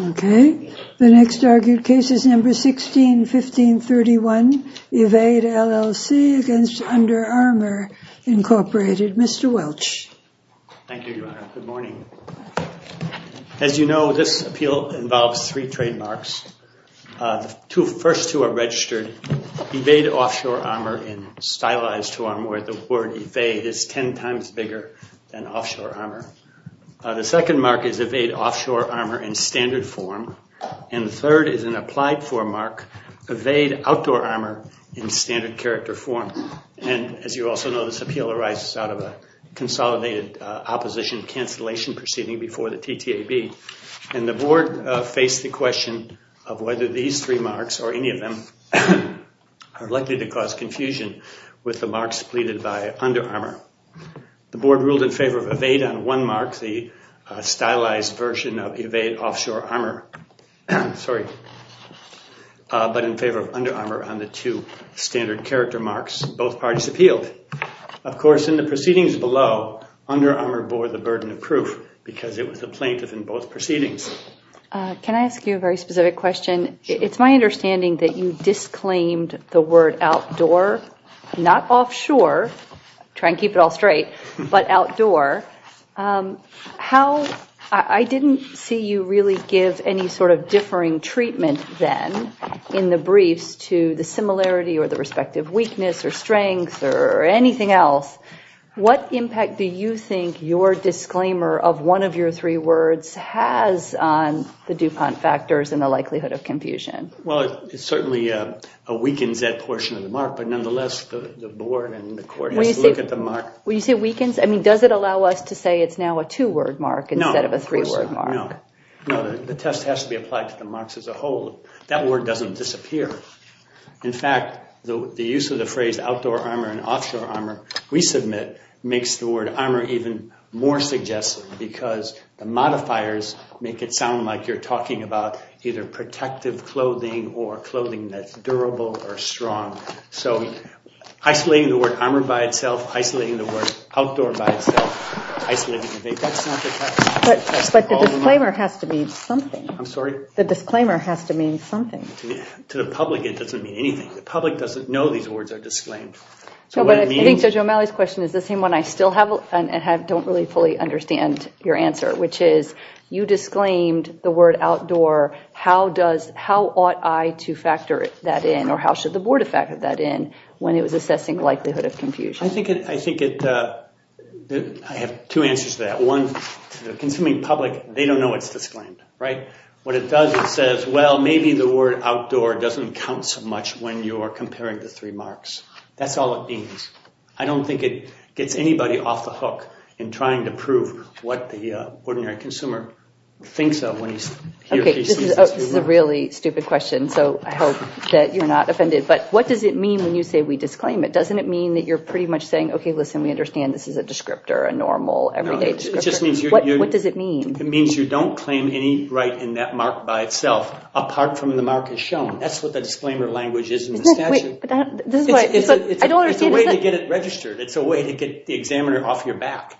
Okay, the next argued case is number 16. 1531, Evade, LLC v. Under Armour, Inc. Mr. Welch. Thank you, Your Honor. Good morning. As you know, this appeal involves three trademarks. The first two are registered, Evade, Offshore Armour, in stylized form, where the word evade is 10 times bigger than offshore armour. The second mark is Evade, Offshore Armour, in standard form, and the third is an applied form mark, Evade, Outdoor Armour, in standard character form. And as you also know, this appeal arises out of a consolidated opposition cancellation proceeding before the TTAB, and the board faced the question of whether these three marks, or any of them, are likely to cause confusion with the marks pleaded by Under Armour. The board ruled in favor of Under Armour on the two standard character marks both parties appealed. Of course, in the proceedings below, Under Armour bore the burden of proof because it was a plaintiff in both proceedings. Can I ask you a very specific question? It's my understanding that you disclaimed the word outdoor, not offshore, try and keep it all straight, but outdoor. I didn't see you really give any sort of differing treatment then in the briefs to the similarity or the respective weakness or strength or anything else. What impact do you think your disclaimer of one of your three words has on the DuPont factors and the likelihood of confusion? Well, it certainly weakens that portion of the mark, but nonetheless, the board and the board, does it allow us to say it's now a two-word mark instead of a three-word mark? No, of course not. The test has to be applied to the marks as a whole. That word doesn't disappear. In fact, the use of the phrase outdoor armour and offshore armour, we submit, makes the word armour even more suggestive because the modifiers make it sound like you're talking about either protective clothing or clothing that's durable or strong. So, isolating the word armour by itself, isolating the word outdoor by itself. That's not the test. But the disclaimer has to mean something. I'm sorry? The disclaimer has to mean something. To the public, it doesn't mean anything. The public doesn't know these words are disclaimed. I think Judge O'Malley's question is the same one I still have and don't really fully understand your answer, which is you disclaimed the word outdoor. How ought I to factor that in or how should the board factor that in when it was I think I have two answers to that. One, the consuming public, they don't know it's disclaimed, right? What it does, it says, well, maybe the word outdoor doesn't count so much when you're comparing the three marks. That's all it means. I don't think it gets anybody off the hook in trying to prove what the ordinary consumer thinks of when he sees this. Okay, this is a really stupid question, so I hope that you're not offended. But what does it mean when you say we disclaim it? Doesn't it mean that you're pretty much saying, okay, listen, we understand this is a descriptor, a normal, everyday descriptor? What does it mean? It means you don't claim any right in that mark by itself apart from the mark as shown. That's what the disclaimer language is in the statute. It's a way to get it registered. It's a way to get the examiner off your back.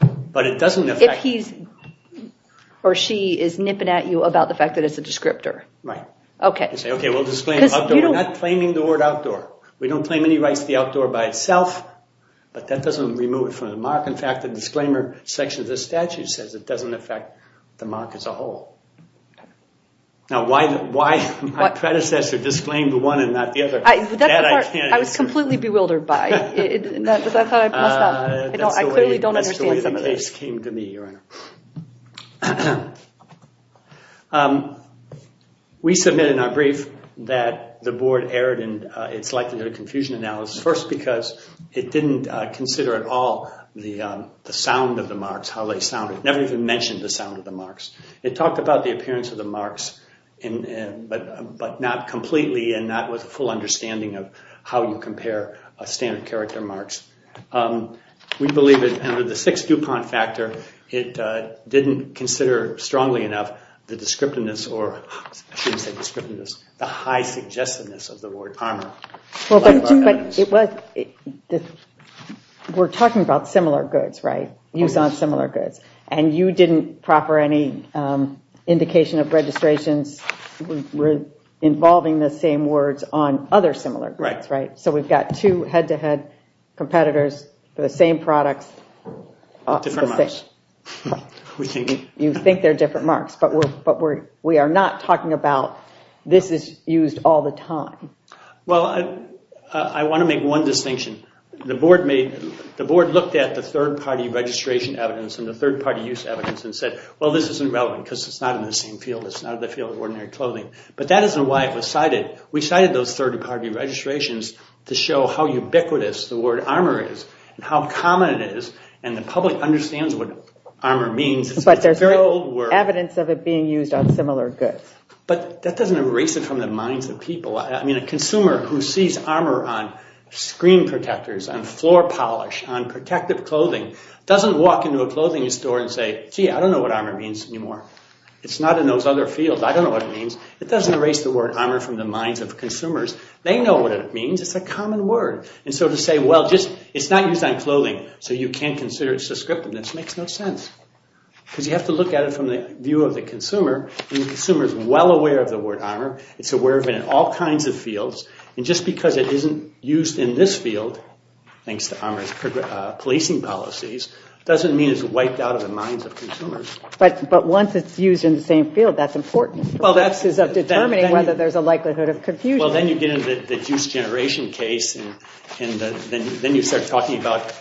But it doesn't affect... If he or she is nipping at you about the fact that it's a descriptor. Right. Okay. You say, okay, we'll just claim outdoor. We're not claiming the word outdoor. We don't claim any rights to the outdoor by itself, but that doesn't remove it from the mark. In fact, the disclaimer section of the statute says it doesn't affect the mark as a whole. Now, why did my predecessor disclaim the one and not the other? That I can't answer. I was completely bewildered by. I clearly don't understand the case. That's the way the case came to me, Your Honor. We submit in our brief that the board erred in its likelihood of confusion analysis. First, because it didn't consider at all the sound of the marks, how they sounded. It never even mentioned the sound of the marks. It talked about the appearance of the marks, but not completely and not with a full understanding of how you compare standard character marks. We believe under the sixth DuPont factor, it didn't consider strongly enough the descriptiveness, or I shouldn't say descriptiveness, the high suggestiveness of the word armor. We're talking about similar goods, right? Use on similar goods. You didn't proper any indication of registrations involving the same words on other similar goods, right? We've got two head-to-head competitors for the same products. You think they're different marks, but we are not talking about this is used all the time. Well, I want to make one distinction. The board looked at the third-party registration evidence and the third-party use evidence and said, well, this is irrelevant because it's not in the same field. It's not in the field of ordinary clothing, but that isn't why it was cited. We cited those registrations to show how ubiquitous the word armor is and how common it is and the public understands what armor means. But there's evidence of it being used on similar goods. But that doesn't erase it from the minds of people. I mean, a consumer who sees armor on screen protectors, on floor polish, on protective clothing doesn't walk into a clothing store and say, gee, I don't know what armor means anymore. It's not in those other fields. I don't know what it means. It doesn't erase the word armor from the minds of consumers. They know what it means. It's a common word. And so to say, well, it's not used on clothing, so you can't consider it suscriptive, that makes no sense. Because you have to look at it from the view of the consumer. And the consumer is well aware of the word armor. It's aware of it in all kinds of fields. And just because it isn't used in this field, thanks to armor's policing policies, doesn't mean it's wiped out of the minds of consumers. But once it's used in the same field, that's important for purposes of determining whether there's a likelihood of confusion. Well, then you get into the juice generation case, and then you start talking about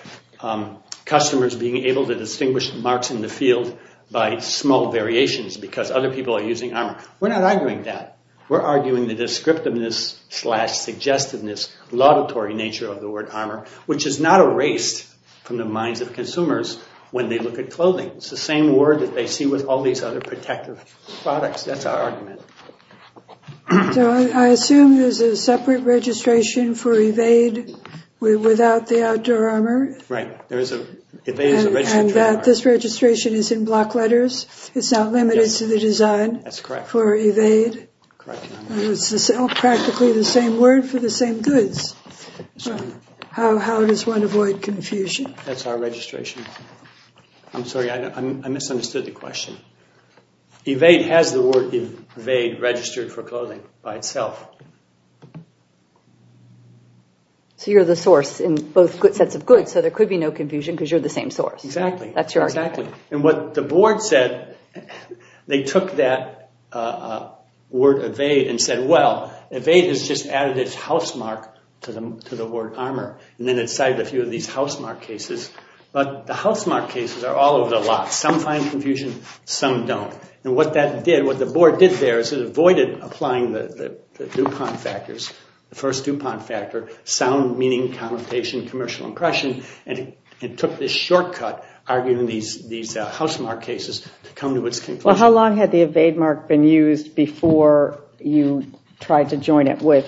customers being able to distinguish marks in the field by small variations because other people are using armor. We're not arguing that. We're arguing the descriptiveness slash suggestiveness, laudatory nature of the word armor, which is not erased from the minds of consumers when they look at clothing. It's the same word that they see with all these other protective products. That's our argument. So I assume there's a separate registration for evade without the outdoor armor. Right. There is a register. And that this registration is in block letters. It's not limited to the design. That's correct. For evade. It's practically the same word for the same goods. How does one avoid confusion? That's our registration. I'm sorry. I misunderstood the question. Evade has the word evade registered for clothing by itself. So you're the source in both sets of goods, so there could be no confusion because you're the same source. Exactly. That's your argument. And what the board said, they took that word evade and said, well, evade has just added its housemark to the word armor, and then it cited a few of these housemark cases. But the housemark cases are all over the lot. Some find confusion, some don't. And what that did, what the board did there is it avoided applying the DuPont factors, the first DuPont factor, sound meaning, connotation, commercial impression, and it took this shortcut, arguing these housemark cases, to come to its conclusion. How long had the evade mark been used before you tried to join it with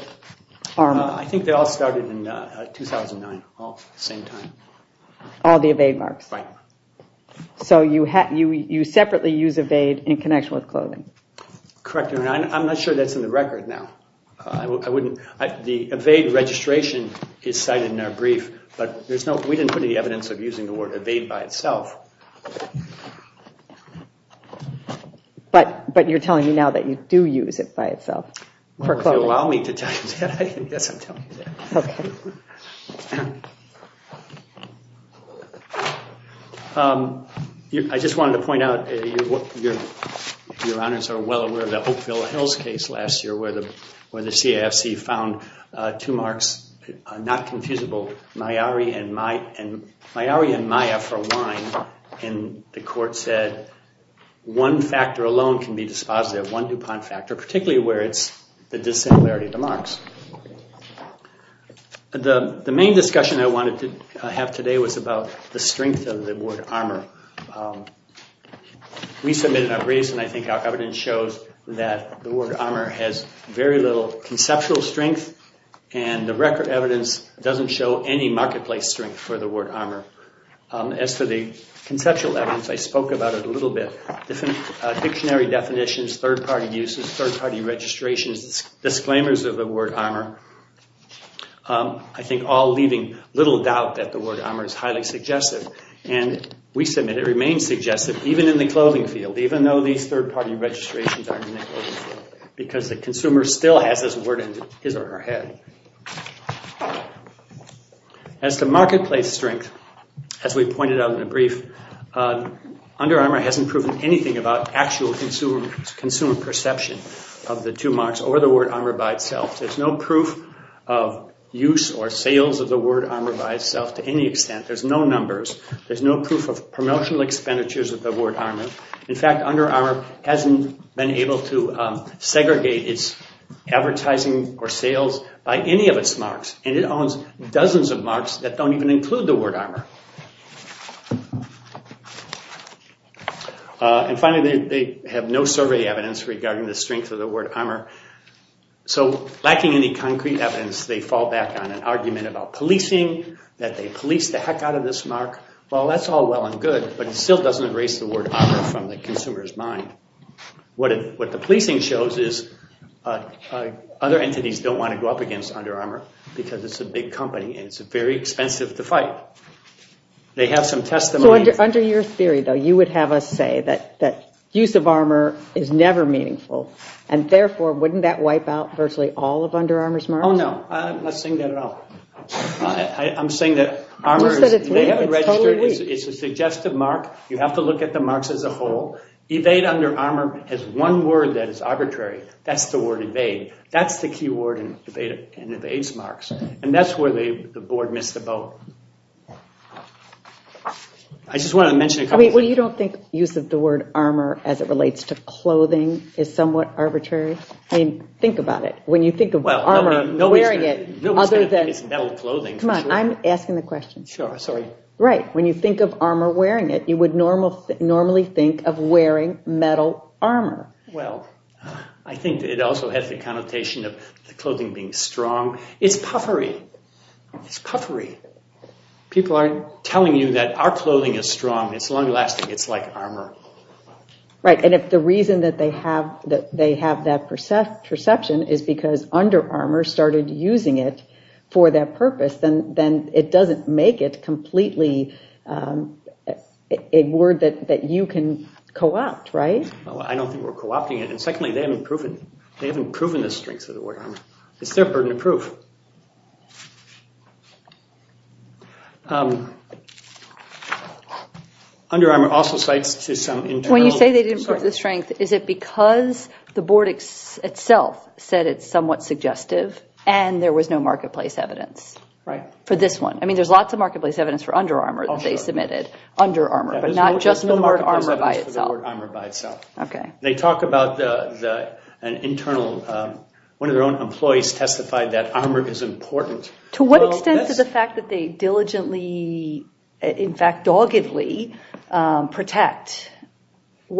armor? I think they all started in 2009, all at the same time. All the evade marks? Right. So you separately use evade in connection with clothing? Correct. And I'm not sure that's in the record now. The evade registration is cited in our brief, but we didn't put any evidence of using the word evade by itself. But you're telling me now that you do use it by itself for clothing? Allow me to tell you that. I guess I'm telling you that. I just wanted to point out, your honors are well aware of the Hopeville Hills case last year, where the CFC found two marks, not confusable, Mayari and Maya, for wine. And the court said one factor alone can be dispositive, one DuPont factor, particularly where it's the dissimilarity of the marks. The main discussion I wanted to have today was about the strength of the word armor. We submitted our briefs, and I think our evidence shows that the word armor has very little conceptual strength, and the record evidence doesn't show any marketplace strength for the word armor. As for the conceptual evidence, I spoke about it a little bit. Different dictionary definitions, third-party uses, third-party registrations, disclaimers of the word armor. I think all leaving little doubt that the word armor is highly suggestive. And we submit it remains suggestive, even in the clothing field, even though these third-party registrations aren't in the clothing field, because the consumer still has this word in his or her head. As to marketplace strength, as we pointed out in the brief, Under Armour hasn't proven anything about actual consumer perception of the two marks or the word armor by itself. There's no proof of use or sales of the word armor by itself to any extent. There's no numbers. There's no proof of promotional expenditures of the word armor. In fact, Under Armour hasn't been able to segregate its advertising or sales by any of its marks, and it owns dozens of marks that don't even include the word armor. And finally, they have no survey evidence regarding the strength of the word armor. So lacking any concrete evidence, they fall back on an argument about policing, that they policed the heck out of this mark. Well, that's all well and good, but it still doesn't erase the word armor from the consumer's mind. What the policing shows is other entities don't want to go up against Under Armour because it's a big company and it's very expensive to fight. They have some testimony. Under your theory, though, you would have us say that use of armor is never meaningful. And therefore, wouldn't that wipe out virtually all of Under Armour's marks? Oh, no. I'm not saying that at all. I'm saying that it's a suggestive mark. You have to look at the marks as a whole. Evade Under Armour has one word that is arbitrary. That's the word evade. That's the key word in Evade's marks. And that's where the board missed the boat. Well, you don't think use of the word armor as it relates to clothing is somewhat arbitrary? I mean, think about it. When you think of armor, wearing it, other than... It's metal clothing. Come on. I'm asking the question. Sure. Sorry. Right. When you think of armor wearing it, you would normally think of wearing metal armor. Well, I think it also has the connotation of the clothing being strong. It's puffery. It's puffery. People aren't telling you that our clothing is strong. It's long lasting. It's like armor. Right. And if the reason that they have that perception is because Under Armour started using it for that purpose, then it doesn't make it completely a word that you can co-opt, right? I don't think we're co-opting it. And secondly, they haven't proven the strength of the word armor. It's their burden to prove. Under Armour also cites to some internal... When you say they didn't prove the strength, is it because the board itself said it's somewhat suggestive and there was no marketplace evidence? Right. For this one. I mean, there's lots of marketplace evidence for Under Armour that they submitted. Under Armour, but not just the word armor by itself. There's no marketplace evidence for the word armor by itself. Okay. They talk about an internal... One of their own employees testified that armor is important. To what extent is the fact that they diligently, in fact, doggedly protect? To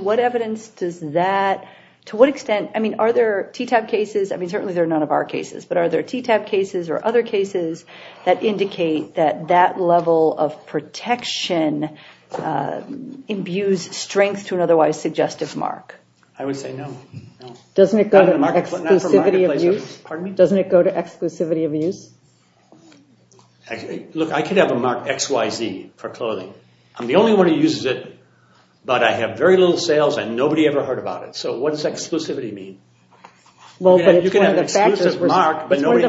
what evidence does that... To what extent... I mean, are there TTAP cases? I mean, certainly they're none of our cases, but are there TTAP cases or other cases that indicate that that level of protection imbues strength to an otherwise suggestive mark? I would say no. Doesn't it go to exclusivity of use? Pardon me? Look, I could have a mark XYZ for clothing. I'm the only one who uses it, but I have very little sales and nobody ever heard about it. So what does exclusivity mean? Well, but it's one of the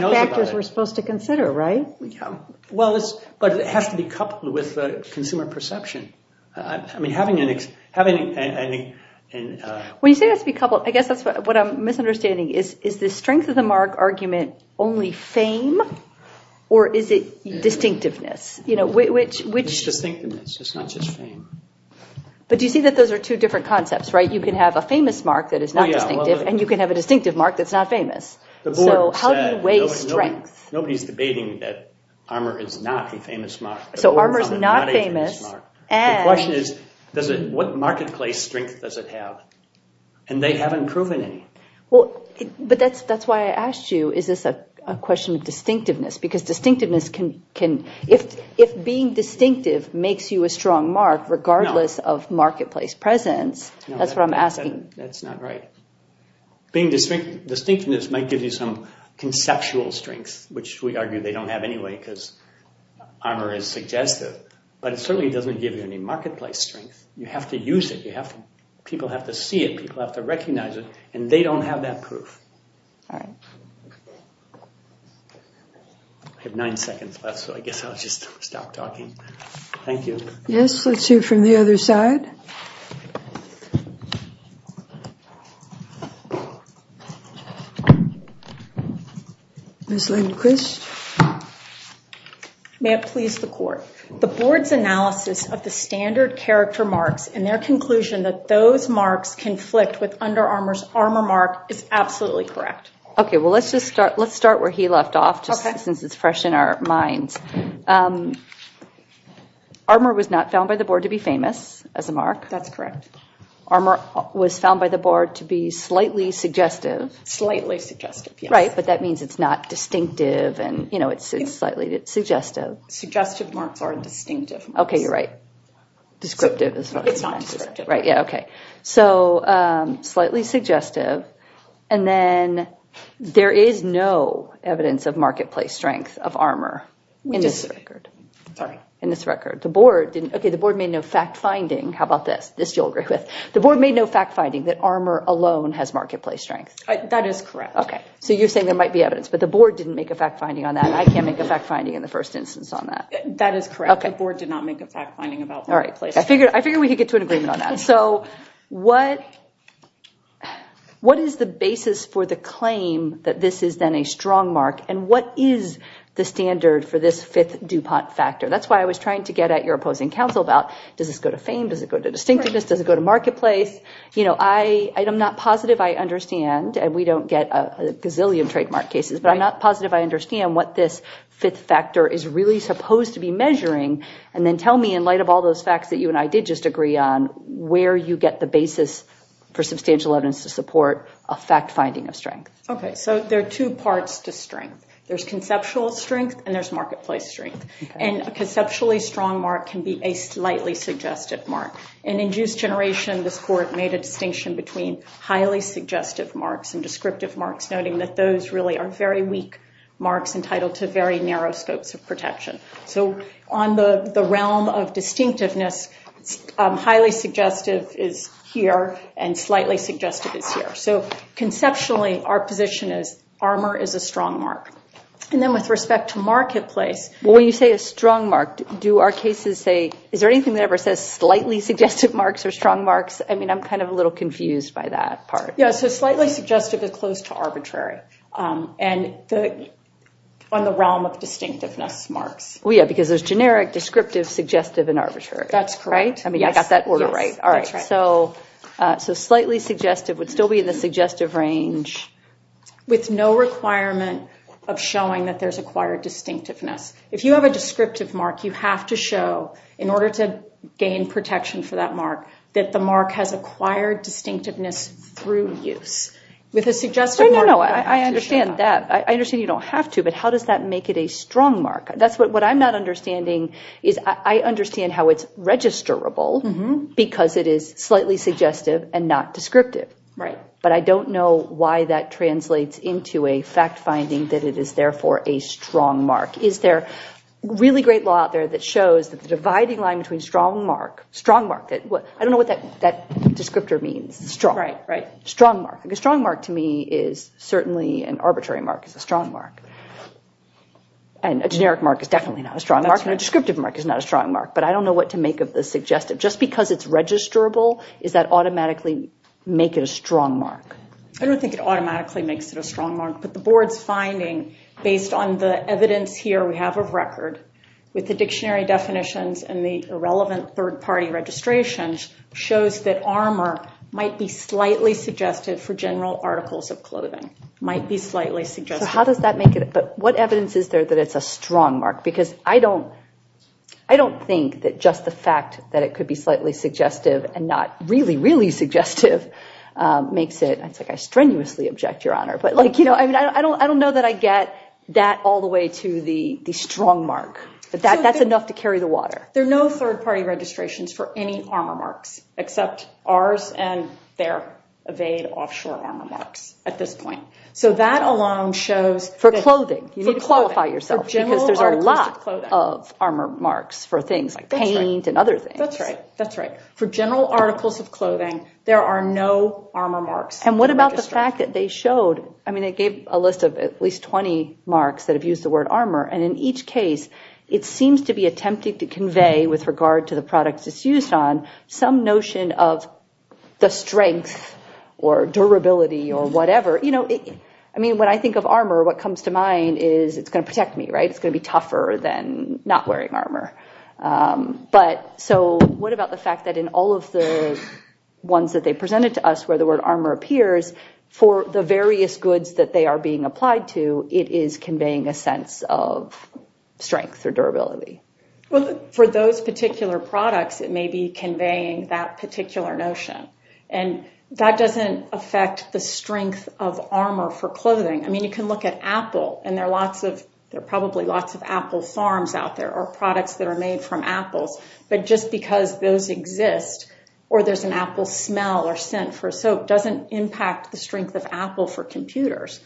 factors we're supposed to consider, right? Yeah. Well, but it has to be coupled with consumer perception. I mean, having an... When you say it has to be coupled, I guess that's what I'm misunderstanding. Is the strength of the mark argument only fame or is it distinctiveness? It's distinctiveness. It's not just fame. But do you see that those are two different concepts, right? You can have a famous mark that is not distinctive, and you can have a distinctive mark that's not famous. The board said... So how do you weigh strength? Nobody's debating that armor is not a famous mark. So armor's not famous and... The question is, what marketplace strength does it have? And they haven't proven any. Well, but that's why I asked you, is this a question of distinctiveness? Because distinctiveness can... If being distinctive makes you a strong mark, regardless of marketplace presence, that's what I'm asking. That's not right. Being distinctiveness might give you some conceptual strength, which we argue they don't have anyway because armor is suggestive. But it certainly doesn't give you any marketplace strength. You have to use it. People have to see it. People have to recognize it. And they don't have that proof. All right. I have nine seconds left, so I guess I'll just stop talking. Thank you. Yes, let's hear from the other side. Ms. Lindquist. May it please the court. The board's analysis of the standard character marks and their conclusion that those marks conflict with Under Armour's armor mark is absolutely correct. OK, well, let's just start. Let's start where he left off, just since it's fresh in our minds. Armor was not found by the board to be famous as a mark. That's correct. Armor was found by the board to be slightly suggestive. Slightly suggestive, yes. Right, but that means it's not distinctive and it's slightly suggestive. Suggestive marks are distinctive. OK, you're right. Descriptive is fine. Yeah, OK. So slightly suggestive. And then there is no evidence of marketplace strength of armor in this record. Sorry. In this record. The board didn't. OK, the board made no fact finding. How about this? This you'll agree with. The board made no fact finding that armor alone has marketplace strength. That is correct. OK, so you're saying there might be evidence. But the board didn't make a fact finding on that. I can't make a fact finding in the first instance on that. That is correct. The board did not make a fact finding about marketplace. I figured we could get to an agreement on that. So what is the basis for the claim that this is then a strong mark? And what is the standard for this fifth DuPont factor? That's why I was trying to get at your opposing counsel about, does this go to fame? Does it go to distinctiveness? Does it go to marketplace? You know, I am not positive I understand. And we don't get a gazillion trademark cases. But I'm not positive I understand what this fifth factor is really supposed to be measuring. And then tell me, in light of all those facts that you and I did just agree on, where you get the basis for substantial evidence to support a fact finding of strength. OK, so there are two parts to strength. There's conceptual strength. And there's marketplace strength. And a conceptually strong mark can be a slightly suggestive mark. And in juice generation, this court made a distinction between highly suggestive marks and descriptive marks, noting that those really are very weak marks entitled to very narrow scopes of protection. So on the realm of distinctiveness, highly suggestive is here and slightly suggestive is here. So conceptually, our position is armor is a strong mark. And then with respect to marketplace, when you say a strong mark, do our cases say, is there anything that ever says slightly suggestive marks or strong marks? I mean, I'm kind of a little confused by that part. Yeah, so slightly suggestive is close to arbitrary. And on the realm of distinctiveness marks. Well, yeah, because there's generic, descriptive, suggestive, and arbitrary. That's correct. I mean, I got that order right. All right, so slightly suggestive would still be in the suggestive range. With no requirement of showing that there's acquired distinctiveness. If you have a descriptive mark, you have to show, in order to gain protection for that mark, that the mark has acquired distinctiveness through use. With a suggestive mark, you have to show that. I understand you don't have to, but how does that make it a strong mark? That's what I'm not understanding is I understand how it's registrable because it is slightly suggestive and not descriptive. Right. But I don't know why that translates into a fact finding that it is therefore a strong mark. Is there really great law out there that shows that the dividing line between strong mark, strong mark, I don't know what that descriptor means, strong. Right, right. A strong mark, to me, is certainly an arbitrary mark. It's a strong mark. And a generic mark is definitely not a strong mark. And a descriptive mark is not a strong mark. But I don't know what to make of the suggestive. Just because it's registrable, does that automatically make it a strong mark? I don't think it automatically makes it a strong mark. But the board's finding, based on the evidence here we have of record, with the dictionary definitions and the irrelevant third party registrations, shows that armor might be slightly suggestive for general articles of clothing. Might be slightly suggestive. So how does that make it? But what evidence is there that it's a strong mark? Because I don't think that just the fact that it could be slightly suggestive and not really, really suggestive makes it, it's like I strenuously object, Your Honor. But I don't know that I get that all the way to the strong mark. But that's enough to carry the water. There are no third party registrations for any armor marks, except ours and their evade offshore armor marks at this point. So that alone shows... For clothing. You need to qualify yourself. Because there's a lot of armor marks for things like paint and other things. That's right. That's right. For general articles of clothing, there are no armor marks. And what about the fact that they showed, I mean, they gave a list of at least 20 marks that have used the word armor. And in each case, it seems to be attempting to convey, with regard to the products it's used on, some notion of the strength or durability or whatever. I mean, when I think of armor, what comes to mind is it's going to protect me, right? It's going to be tougher than not wearing armor. So what about the fact that in all of the ones that they presented to us, where the word armor appears, for the various goods that they are being applied to, it is conveying a sense of strength or durability? Well, for those particular products, it may be conveying that particular notion. And that doesn't affect the strength of armor for clothing. I mean, you can look at Apple. And there are lots of... There are probably lots of Apple farms out there or products that are made from apples. But just because those exist, or there's an apple smell or scent for soap, doesn't impact the strength of Apple for computers.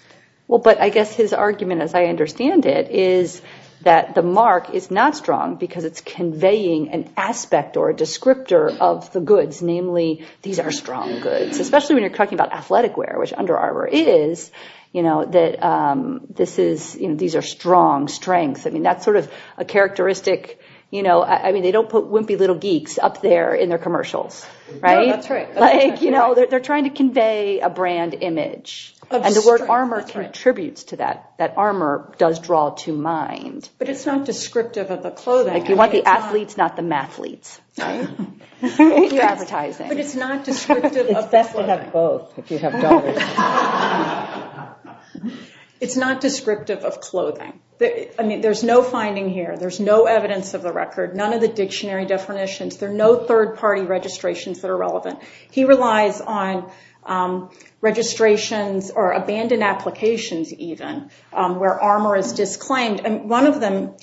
Well, but I guess his argument, as I understand it, is that the mark is not strong because it's conveying an aspect or a descriptor of the goods. Namely, these are strong goods. Especially when you're talking about athletic wear, which under armor is, you know, that these are strong strengths. I mean, that's sort of a characteristic. You know, I mean, they don't put wimpy little geeks up there in their commercials, right? No, that's right. Like, you know, they're trying to convey a brand image. And the word armor contributes to that. That armor does draw to mind. But it's not descriptive of the clothing. Like, you want the athletes, not the mathletes. But it's not descriptive of... It's best to have both if you have dollars. It's not descriptive of clothing. I mean, there's no finding here. There's no evidence of the record. None of the dictionary definitions. There are no third-party registrations that are relevant. He relies on registrations or abandoned applications, even, where armor is disclaimed. And one of them,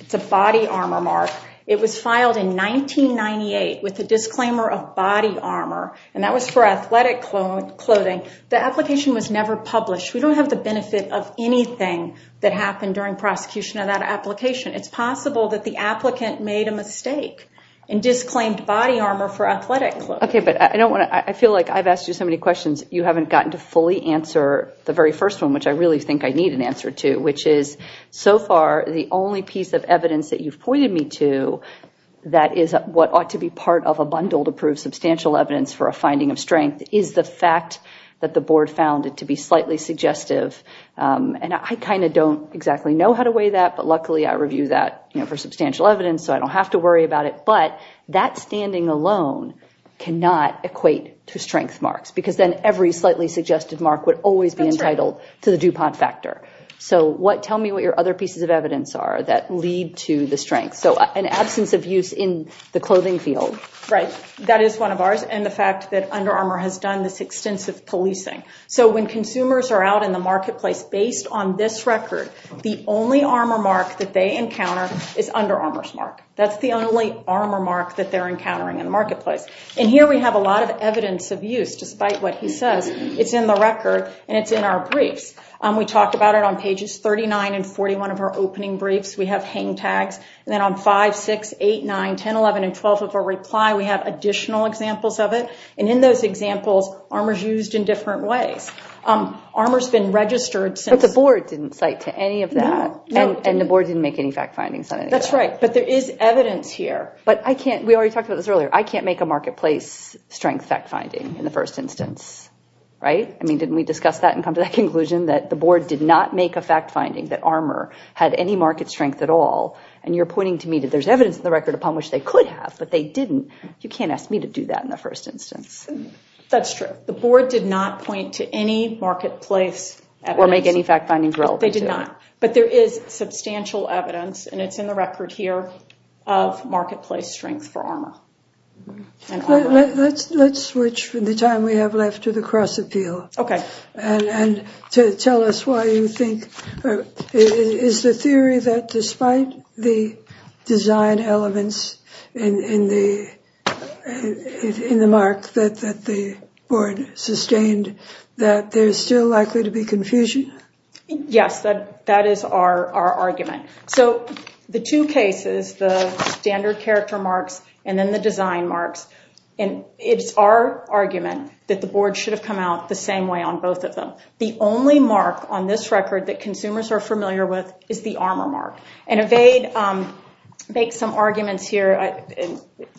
it's a body armor mark. It was filed in 1998 with the disclaimer of body armor. And that was for athletic clothing. The application was never published. We don't have the benefit of anything that happened during prosecution of that application. It's possible that the applicant made a mistake and disclaimed body armor for athletic clothing. OK, but I don't want to... I feel like I've asked you so many questions. You haven't gotten to fully answer the very first one, which I really think I need an answer to, which is, so far, the only piece of evidence that you've pointed me to that is what ought to be part of a bundle to prove substantial evidence for a finding of strength is the fact that the board found it to be slightly suggestive. And I kind of don't exactly know how to weigh that. But luckily, I review that for substantial evidence. So I don't have to worry about it. But that standing alone cannot equate to strength marks because then every slightly suggestive mark would always be entitled to the DuPont factor. So tell me what your other pieces of evidence are that lead to the strength. So an absence of use in the clothing field. Right. That is one of ours. And the fact that Under Armour has done this extensive policing. So when consumers are out in the marketplace, based on this record, the only Armour mark that they encounter is Under Armour's mark. That's the only Armour mark that they're encountering in the marketplace. And here we have a lot of evidence of use, despite what he says. It's in the record. And it's in our briefs. We talked about it on pages 39 and 41 of our opening briefs. We have hang tags. And then on 5, 6, 8, 9, 10, 11, and 12 of our reply, we have additional examples of it. And in those examples, Armour's used in different ways. Armour's been registered since— And the board didn't make any fact findings on any of that. That's right. But there is evidence here. But we already talked about this earlier. I can't make a marketplace strength fact finding in the first instance. Right? I mean, didn't we discuss that and come to that conclusion that the board did not make a fact finding that Armour had any market strength at all? And you're pointing to me that there's evidence in the record upon which they could have, but they didn't. You can't ask me to do that in the first instance. That's true. The board did not point to any marketplace— Or make any fact findings relevant to it. They did not. But there is substantial evidence, and it's in the record here, of marketplace strength for Armour. Let's switch from the time we have left to the cross-appeal. Okay. And to tell us why you think—is the theory that despite the design elements in the mark that the board sustained, that there's still likely to be confusion? Yes, that is our argument. So the two cases, the standard character marks and then the design marks, and it's our argument that the board should have come out the same way on both of them. The only mark on this record that consumers are familiar with is the Armour mark. And Evade makes some arguments here.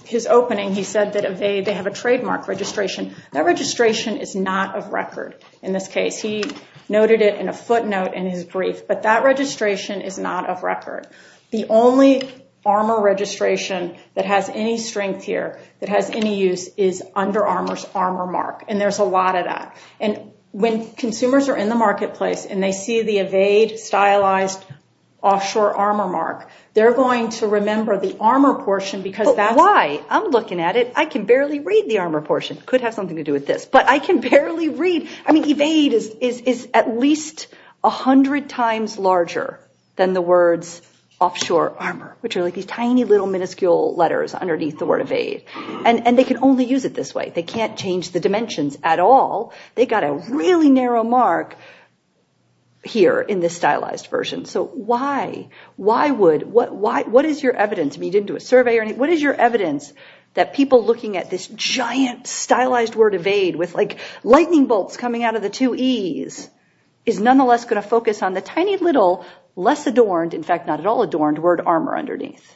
His opening, he said that Evade, they have a trademark registration. That registration is not of record in this case. He noted it in a footnote in his brief. But that registration is not of record. The only Armour registration that has any strength here, that has any use, is under Armour's Armour mark. And there's a lot of that. And when consumers are in the marketplace and they see the Evade stylized offshore Armour mark, they're going to remember the Armour portion because that's— Why? I'm looking at it. I can barely read the Armour portion. Could have something to do with this. But I can barely read. I mean, Evade is at least a hundred times larger than the words offshore Armour, which are like these tiny little minuscule letters underneath the word Evade. And they can only use it this way. They can't change the dimensions at all. They got a really narrow mark here in this stylized version. So why? Why would— What is your evidence? I mean, you didn't do a survey or anything. What is your evidence that people looking at this giant stylized word Evade with like lightning bolts coming out of the two E's is nonetheless going to focus on the tiny little less adorned— in fact, not at all adorned— word Armour underneath?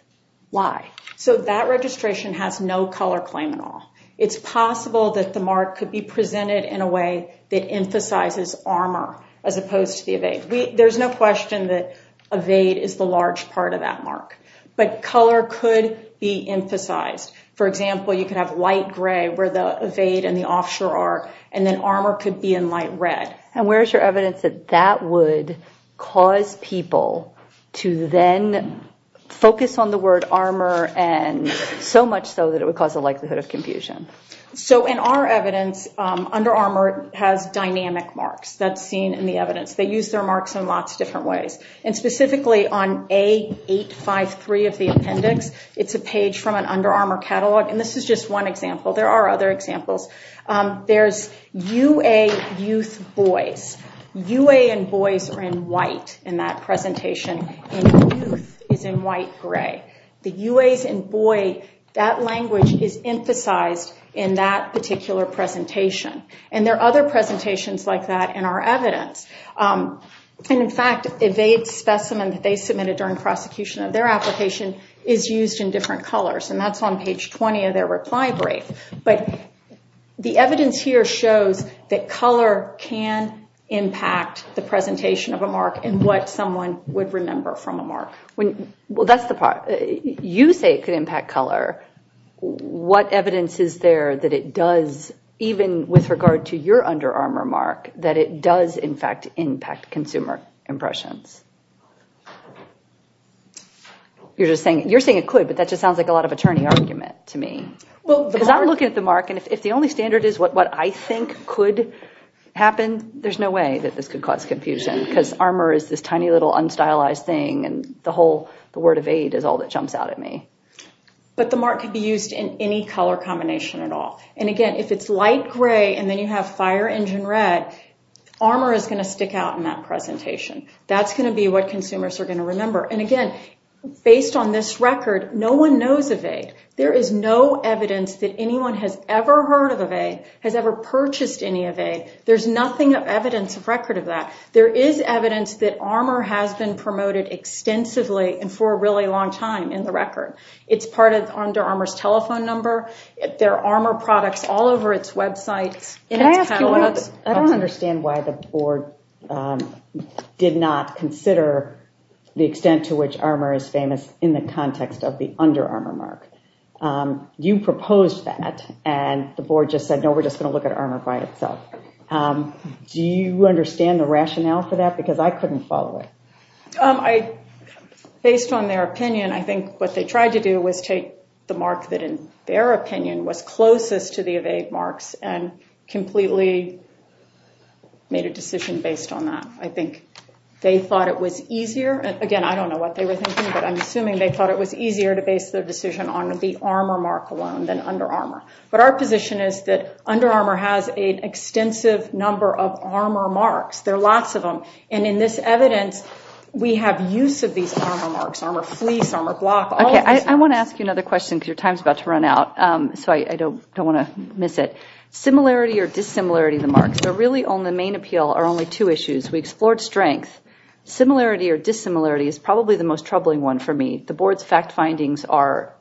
Why? So that registration has no color claim at all. It's possible that the mark could be presented in a way that emphasizes Armour as opposed to the Evade. There's no question that Evade is the large part of that mark. But color could be emphasized. For example, you could have light gray where the Evade and the Offshore are, and then Armour could be in light red. And where's your evidence that that would cause people to then focus on the word Armour, and so much so that it would cause a likelihood of confusion? So in our evidence, Under Armour has dynamic marks. That's seen in the evidence. They use their marks in lots of different ways. And specifically on A853 of the appendix, it's a page from an Under Armour catalog. And this is just one example. There are other examples. There's UA Youth Boys. UA and Boys are in white in that presentation, and Youth is in white gray. The UAs and Boy, that language is emphasized in that particular presentation. And there are other presentations like that in our evidence. And in fact, Evade's specimen that they submitted during prosecution of their application is used in different colors. And that's on page 20 of their reply brief. But the evidence here shows that color can impact the presentation of a mark and what someone would remember from a mark. Well, that's the part. You say it could impact color. What evidence is there that it does, even with regard to your Under Armour mark, that it does, in fact, impact consumer impressions? You're just saying, you're saying it could, but that just sounds like a lot of attorney argument to me. Well, because I'm looking at the mark, and if the only standard is what I think could happen, there's no way that this could cause confusion because Armour is this tiny little unstylized thing. And the whole, the word Evade is all that jumps out at me. But the mark could be used in any color combination at all. And again, if it's light gray and then you have fire engine red, Armour is going to stick out in that presentation. That's going to be what consumers are going to remember. And again, based on this record, no one knows Evade. There is no evidence that anyone has ever heard of Evade, has ever purchased any Evade. There's nothing of evidence of record of that. There is evidence that Armour has been promoted extensively and for a really long time in the record. It's part of Under Armour's telephone number. There are Armour products all over its websites. Can I ask you, I don't understand why the board did not consider the extent to which Armour is famous in the context of the Under Armour mark. You proposed that and the board just said, no, we're just going to look at Armour by itself. Do you understand the rationale for that? Because I couldn't follow it. Based on their opinion, I think what they tried to do was take the mark that in their opinion was closest to the Evade marks and completely made a decision based on that. I think they thought it was easier. Again, I don't know what they were thinking, but I'm assuming they thought it was easier to base their decision on the Armour mark alone than Under Armour. But our position is that Under Armour has an extensive number of Armour marks. There are lots of them. And in this evidence, we have use of these Armour marks, Armour fleece, Armour block. I want to ask you another question because your time's about to run out. So I don't want to miss it. Similarity or dissimilarity of the marks. So really on the main appeal are only two issues. We explored strength. Similarity or dissimilarity is probably the most troubling one for me. The board's fact findings are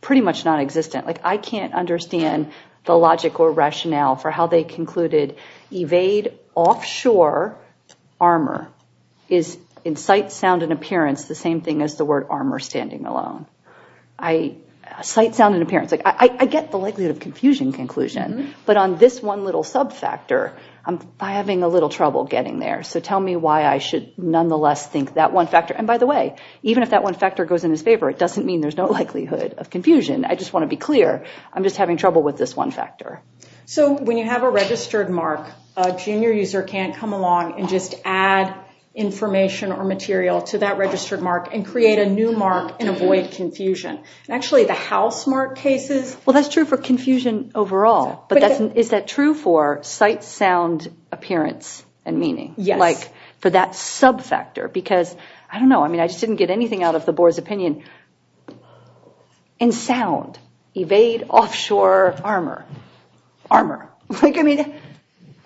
pretty much non-existent. I can't understand the logic or rationale for how they concluded Evade offshore Armour is in sight, sound, and appearance the same thing as the word Armour standing alone. Sight, sound, and appearance. I get the likelihood of confusion conclusion. But on this one little sub-factor, I'm having a little trouble getting there. So tell me why I should nonetheless think that one factor. And by the way, even if that one factor goes in his favor, it doesn't mean there's no likelihood of confusion. I just want to be clear. I'm just having trouble with this one factor. So when you have a registered mark, a junior user can't come along and just add information or material to that registered mark and create a new mark and avoid confusion. Actually, the house mark cases. Well, that's true for confusion overall. Is that true for sight, sound, appearance, and meaning? Yes. Like for that sub-factor? Because I don't know. I mean, I just didn't get anything out of the board's opinion. In sound, Evade offshore Armour. Armour. Like, I mean,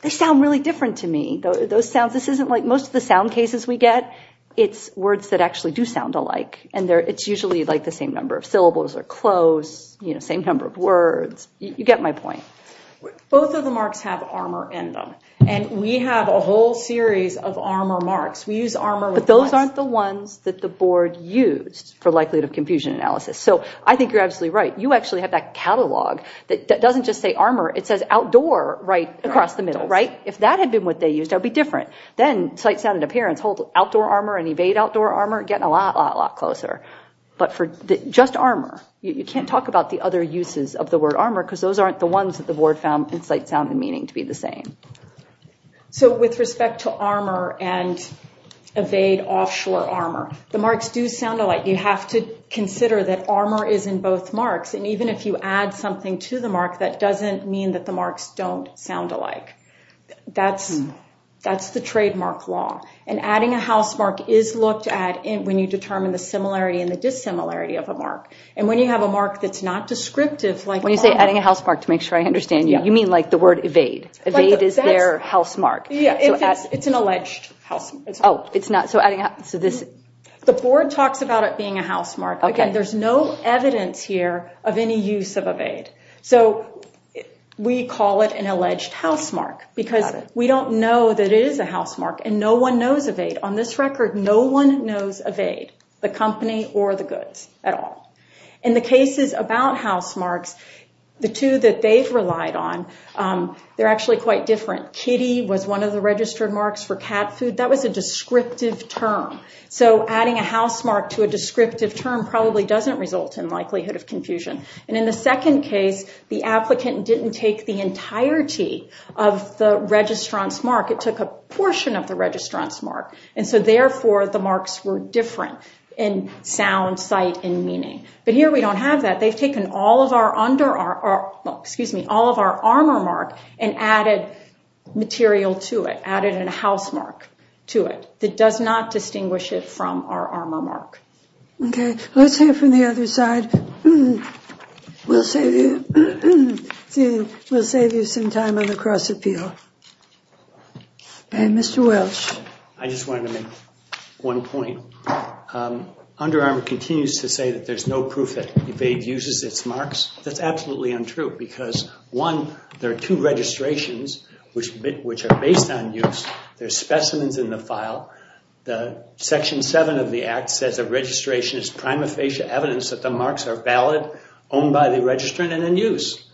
they sound really different to me. Those sounds, this isn't like most of the sound cases we get. It's words that actually do sound alike. And it's usually like the same number of syllables or close, you know, same number of words. You get my point. Both of the marks have Armour in them. And we have a whole series of Armour marks. We use Armour. But those aren't the ones that the board used for likelihood of confusion analysis. So I think you're absolutely right. You actually have that catalog that doesn't just say Armour. It says Outdoor right across the middle, right? If that had been what they used, that would be different. Then sight, sound, and appearance hold Outdoor Armour and Evade Outdoor Armour getting a lot, lot, lot closer. But for just Armour, you can't talk about the other uses of the word Armour because those aren't the ones that the board found sight, sound, and meaning to be the same. So with respect to Armour and Evade Offshore Armour, the marks do sound alike. You have to consider that Armour is in both marks. And even if you add something to the mark, that doesn't mean that the marks don't sound alike. That's the trademark law. And adding a housemark is looked at when you determine the similarity and the dissimilarity of a mark. And when you have a mark that's not descriptive like... When you say adding a housemark to make sure I understand you, you mean like the word Evade. Evade is their housemark. Yeah, it's an alleged housemark. Oh, it's not. The board talks about it being a housemark. Again, there's no evidence here of any use of Evade. So we call it an alleged housemark because we don't know that it is a housemark and no one knows Evade. On this record, no one knows Evade, the company, or the goods at all. In the cases about housemarks, the two that they've relied on, they're actually quite different. Kitty was one of the registered marks for cat food. That was a descriptive term. So adding a housemark to a descriptive term probably doesn't result in likelihood of confusion. And in the second case, the applicant didn't take the entirety of the registrant's mark. It took a portion of the registrant's mark. And so therefore, the marks were different in sound, sight, and meaning. But here, we don't have that. They've taken all of our armor mark and added material to it, added a housemark to it that does not distinguish it from our armor mark. Okay, let's hear from the other side. We'll save you some time on the cross-appeal. Okay, Mr. Welsh. I just wanted to make one point. Under Armour continues to say that there's no proof that Evade uses its marks. That's absolutely untrue because one, there are two registrations which are based on use. There's specimens in the file. The section seven of the act says the registration is prima facie evidence that the marks are valid, owned by the registrant, and in use.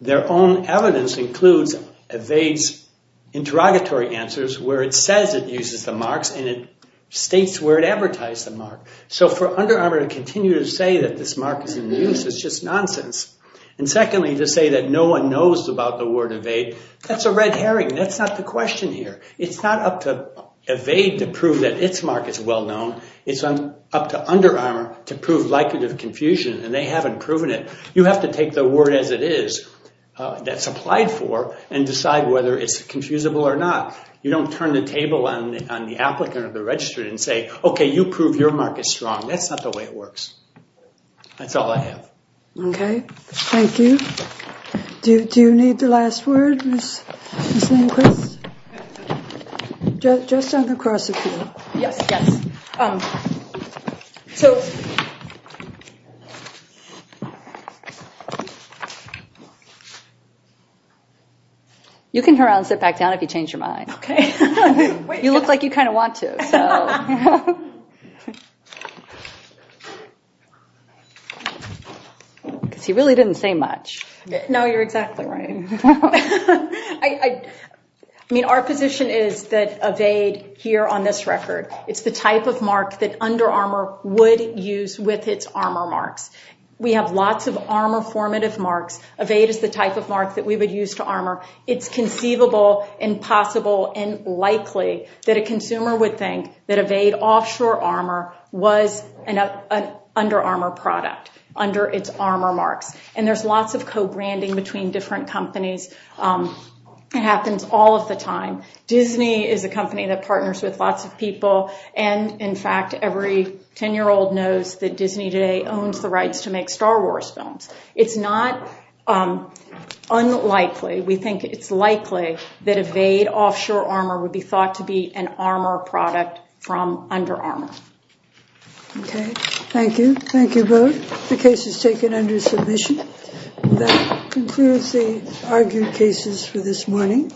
Their own evidence includes Evade's interrogatory answers where it says it uses the marks and it states where it advertised the mark. So for Under Armour to continue to say that this mark is in use is just nonsense. And secondly, to say that no one knows about the word Evade, that's a red herring. That's not the question here. It's not up to Evade to prove that its mark is well-known. It's up to Under Armour to prove likelihood of confusion, and they haven't proven it. You have to take the word as it is that's applied for and decide whether it's confusable or not. You don't turn the table on the applicant or the registrant and say, okay, you prove your mark is strong. That's not the way it works. That's all I have. Okay, thank you. Do you need the last word, Ms. Lindquist? Just on the cross appeal. Yes, yes. You can turn around and sit back down if you change your mind. Okay. You look like you kind of want to. Because he really didn't say much. No, you're exactly right. I mean, our position is that Evade here on this record, it's the type of mark that Under Armour would use with its armour marks. We have lots of armour formative marks. Evade is the type of mark that we would use to armour. It's conceivable and possible and likely that a consumer would think that Evade Offshore Armour was an Under Armour product under its armour marks. And there's lots of co-branding between different companies. It happens all of the time. Disney is a company that partners with lots of people. And in fact, every 10-year-old knows that Disney today owns the rights to make Star Wars films. It's not unlikely. We think it's likely that Evade Offshore Armour would be thought to be an armour product from Under Armour. Okay. Thank you. Thank you both. The case is taken under submission. That concludes the argued cases for this morning.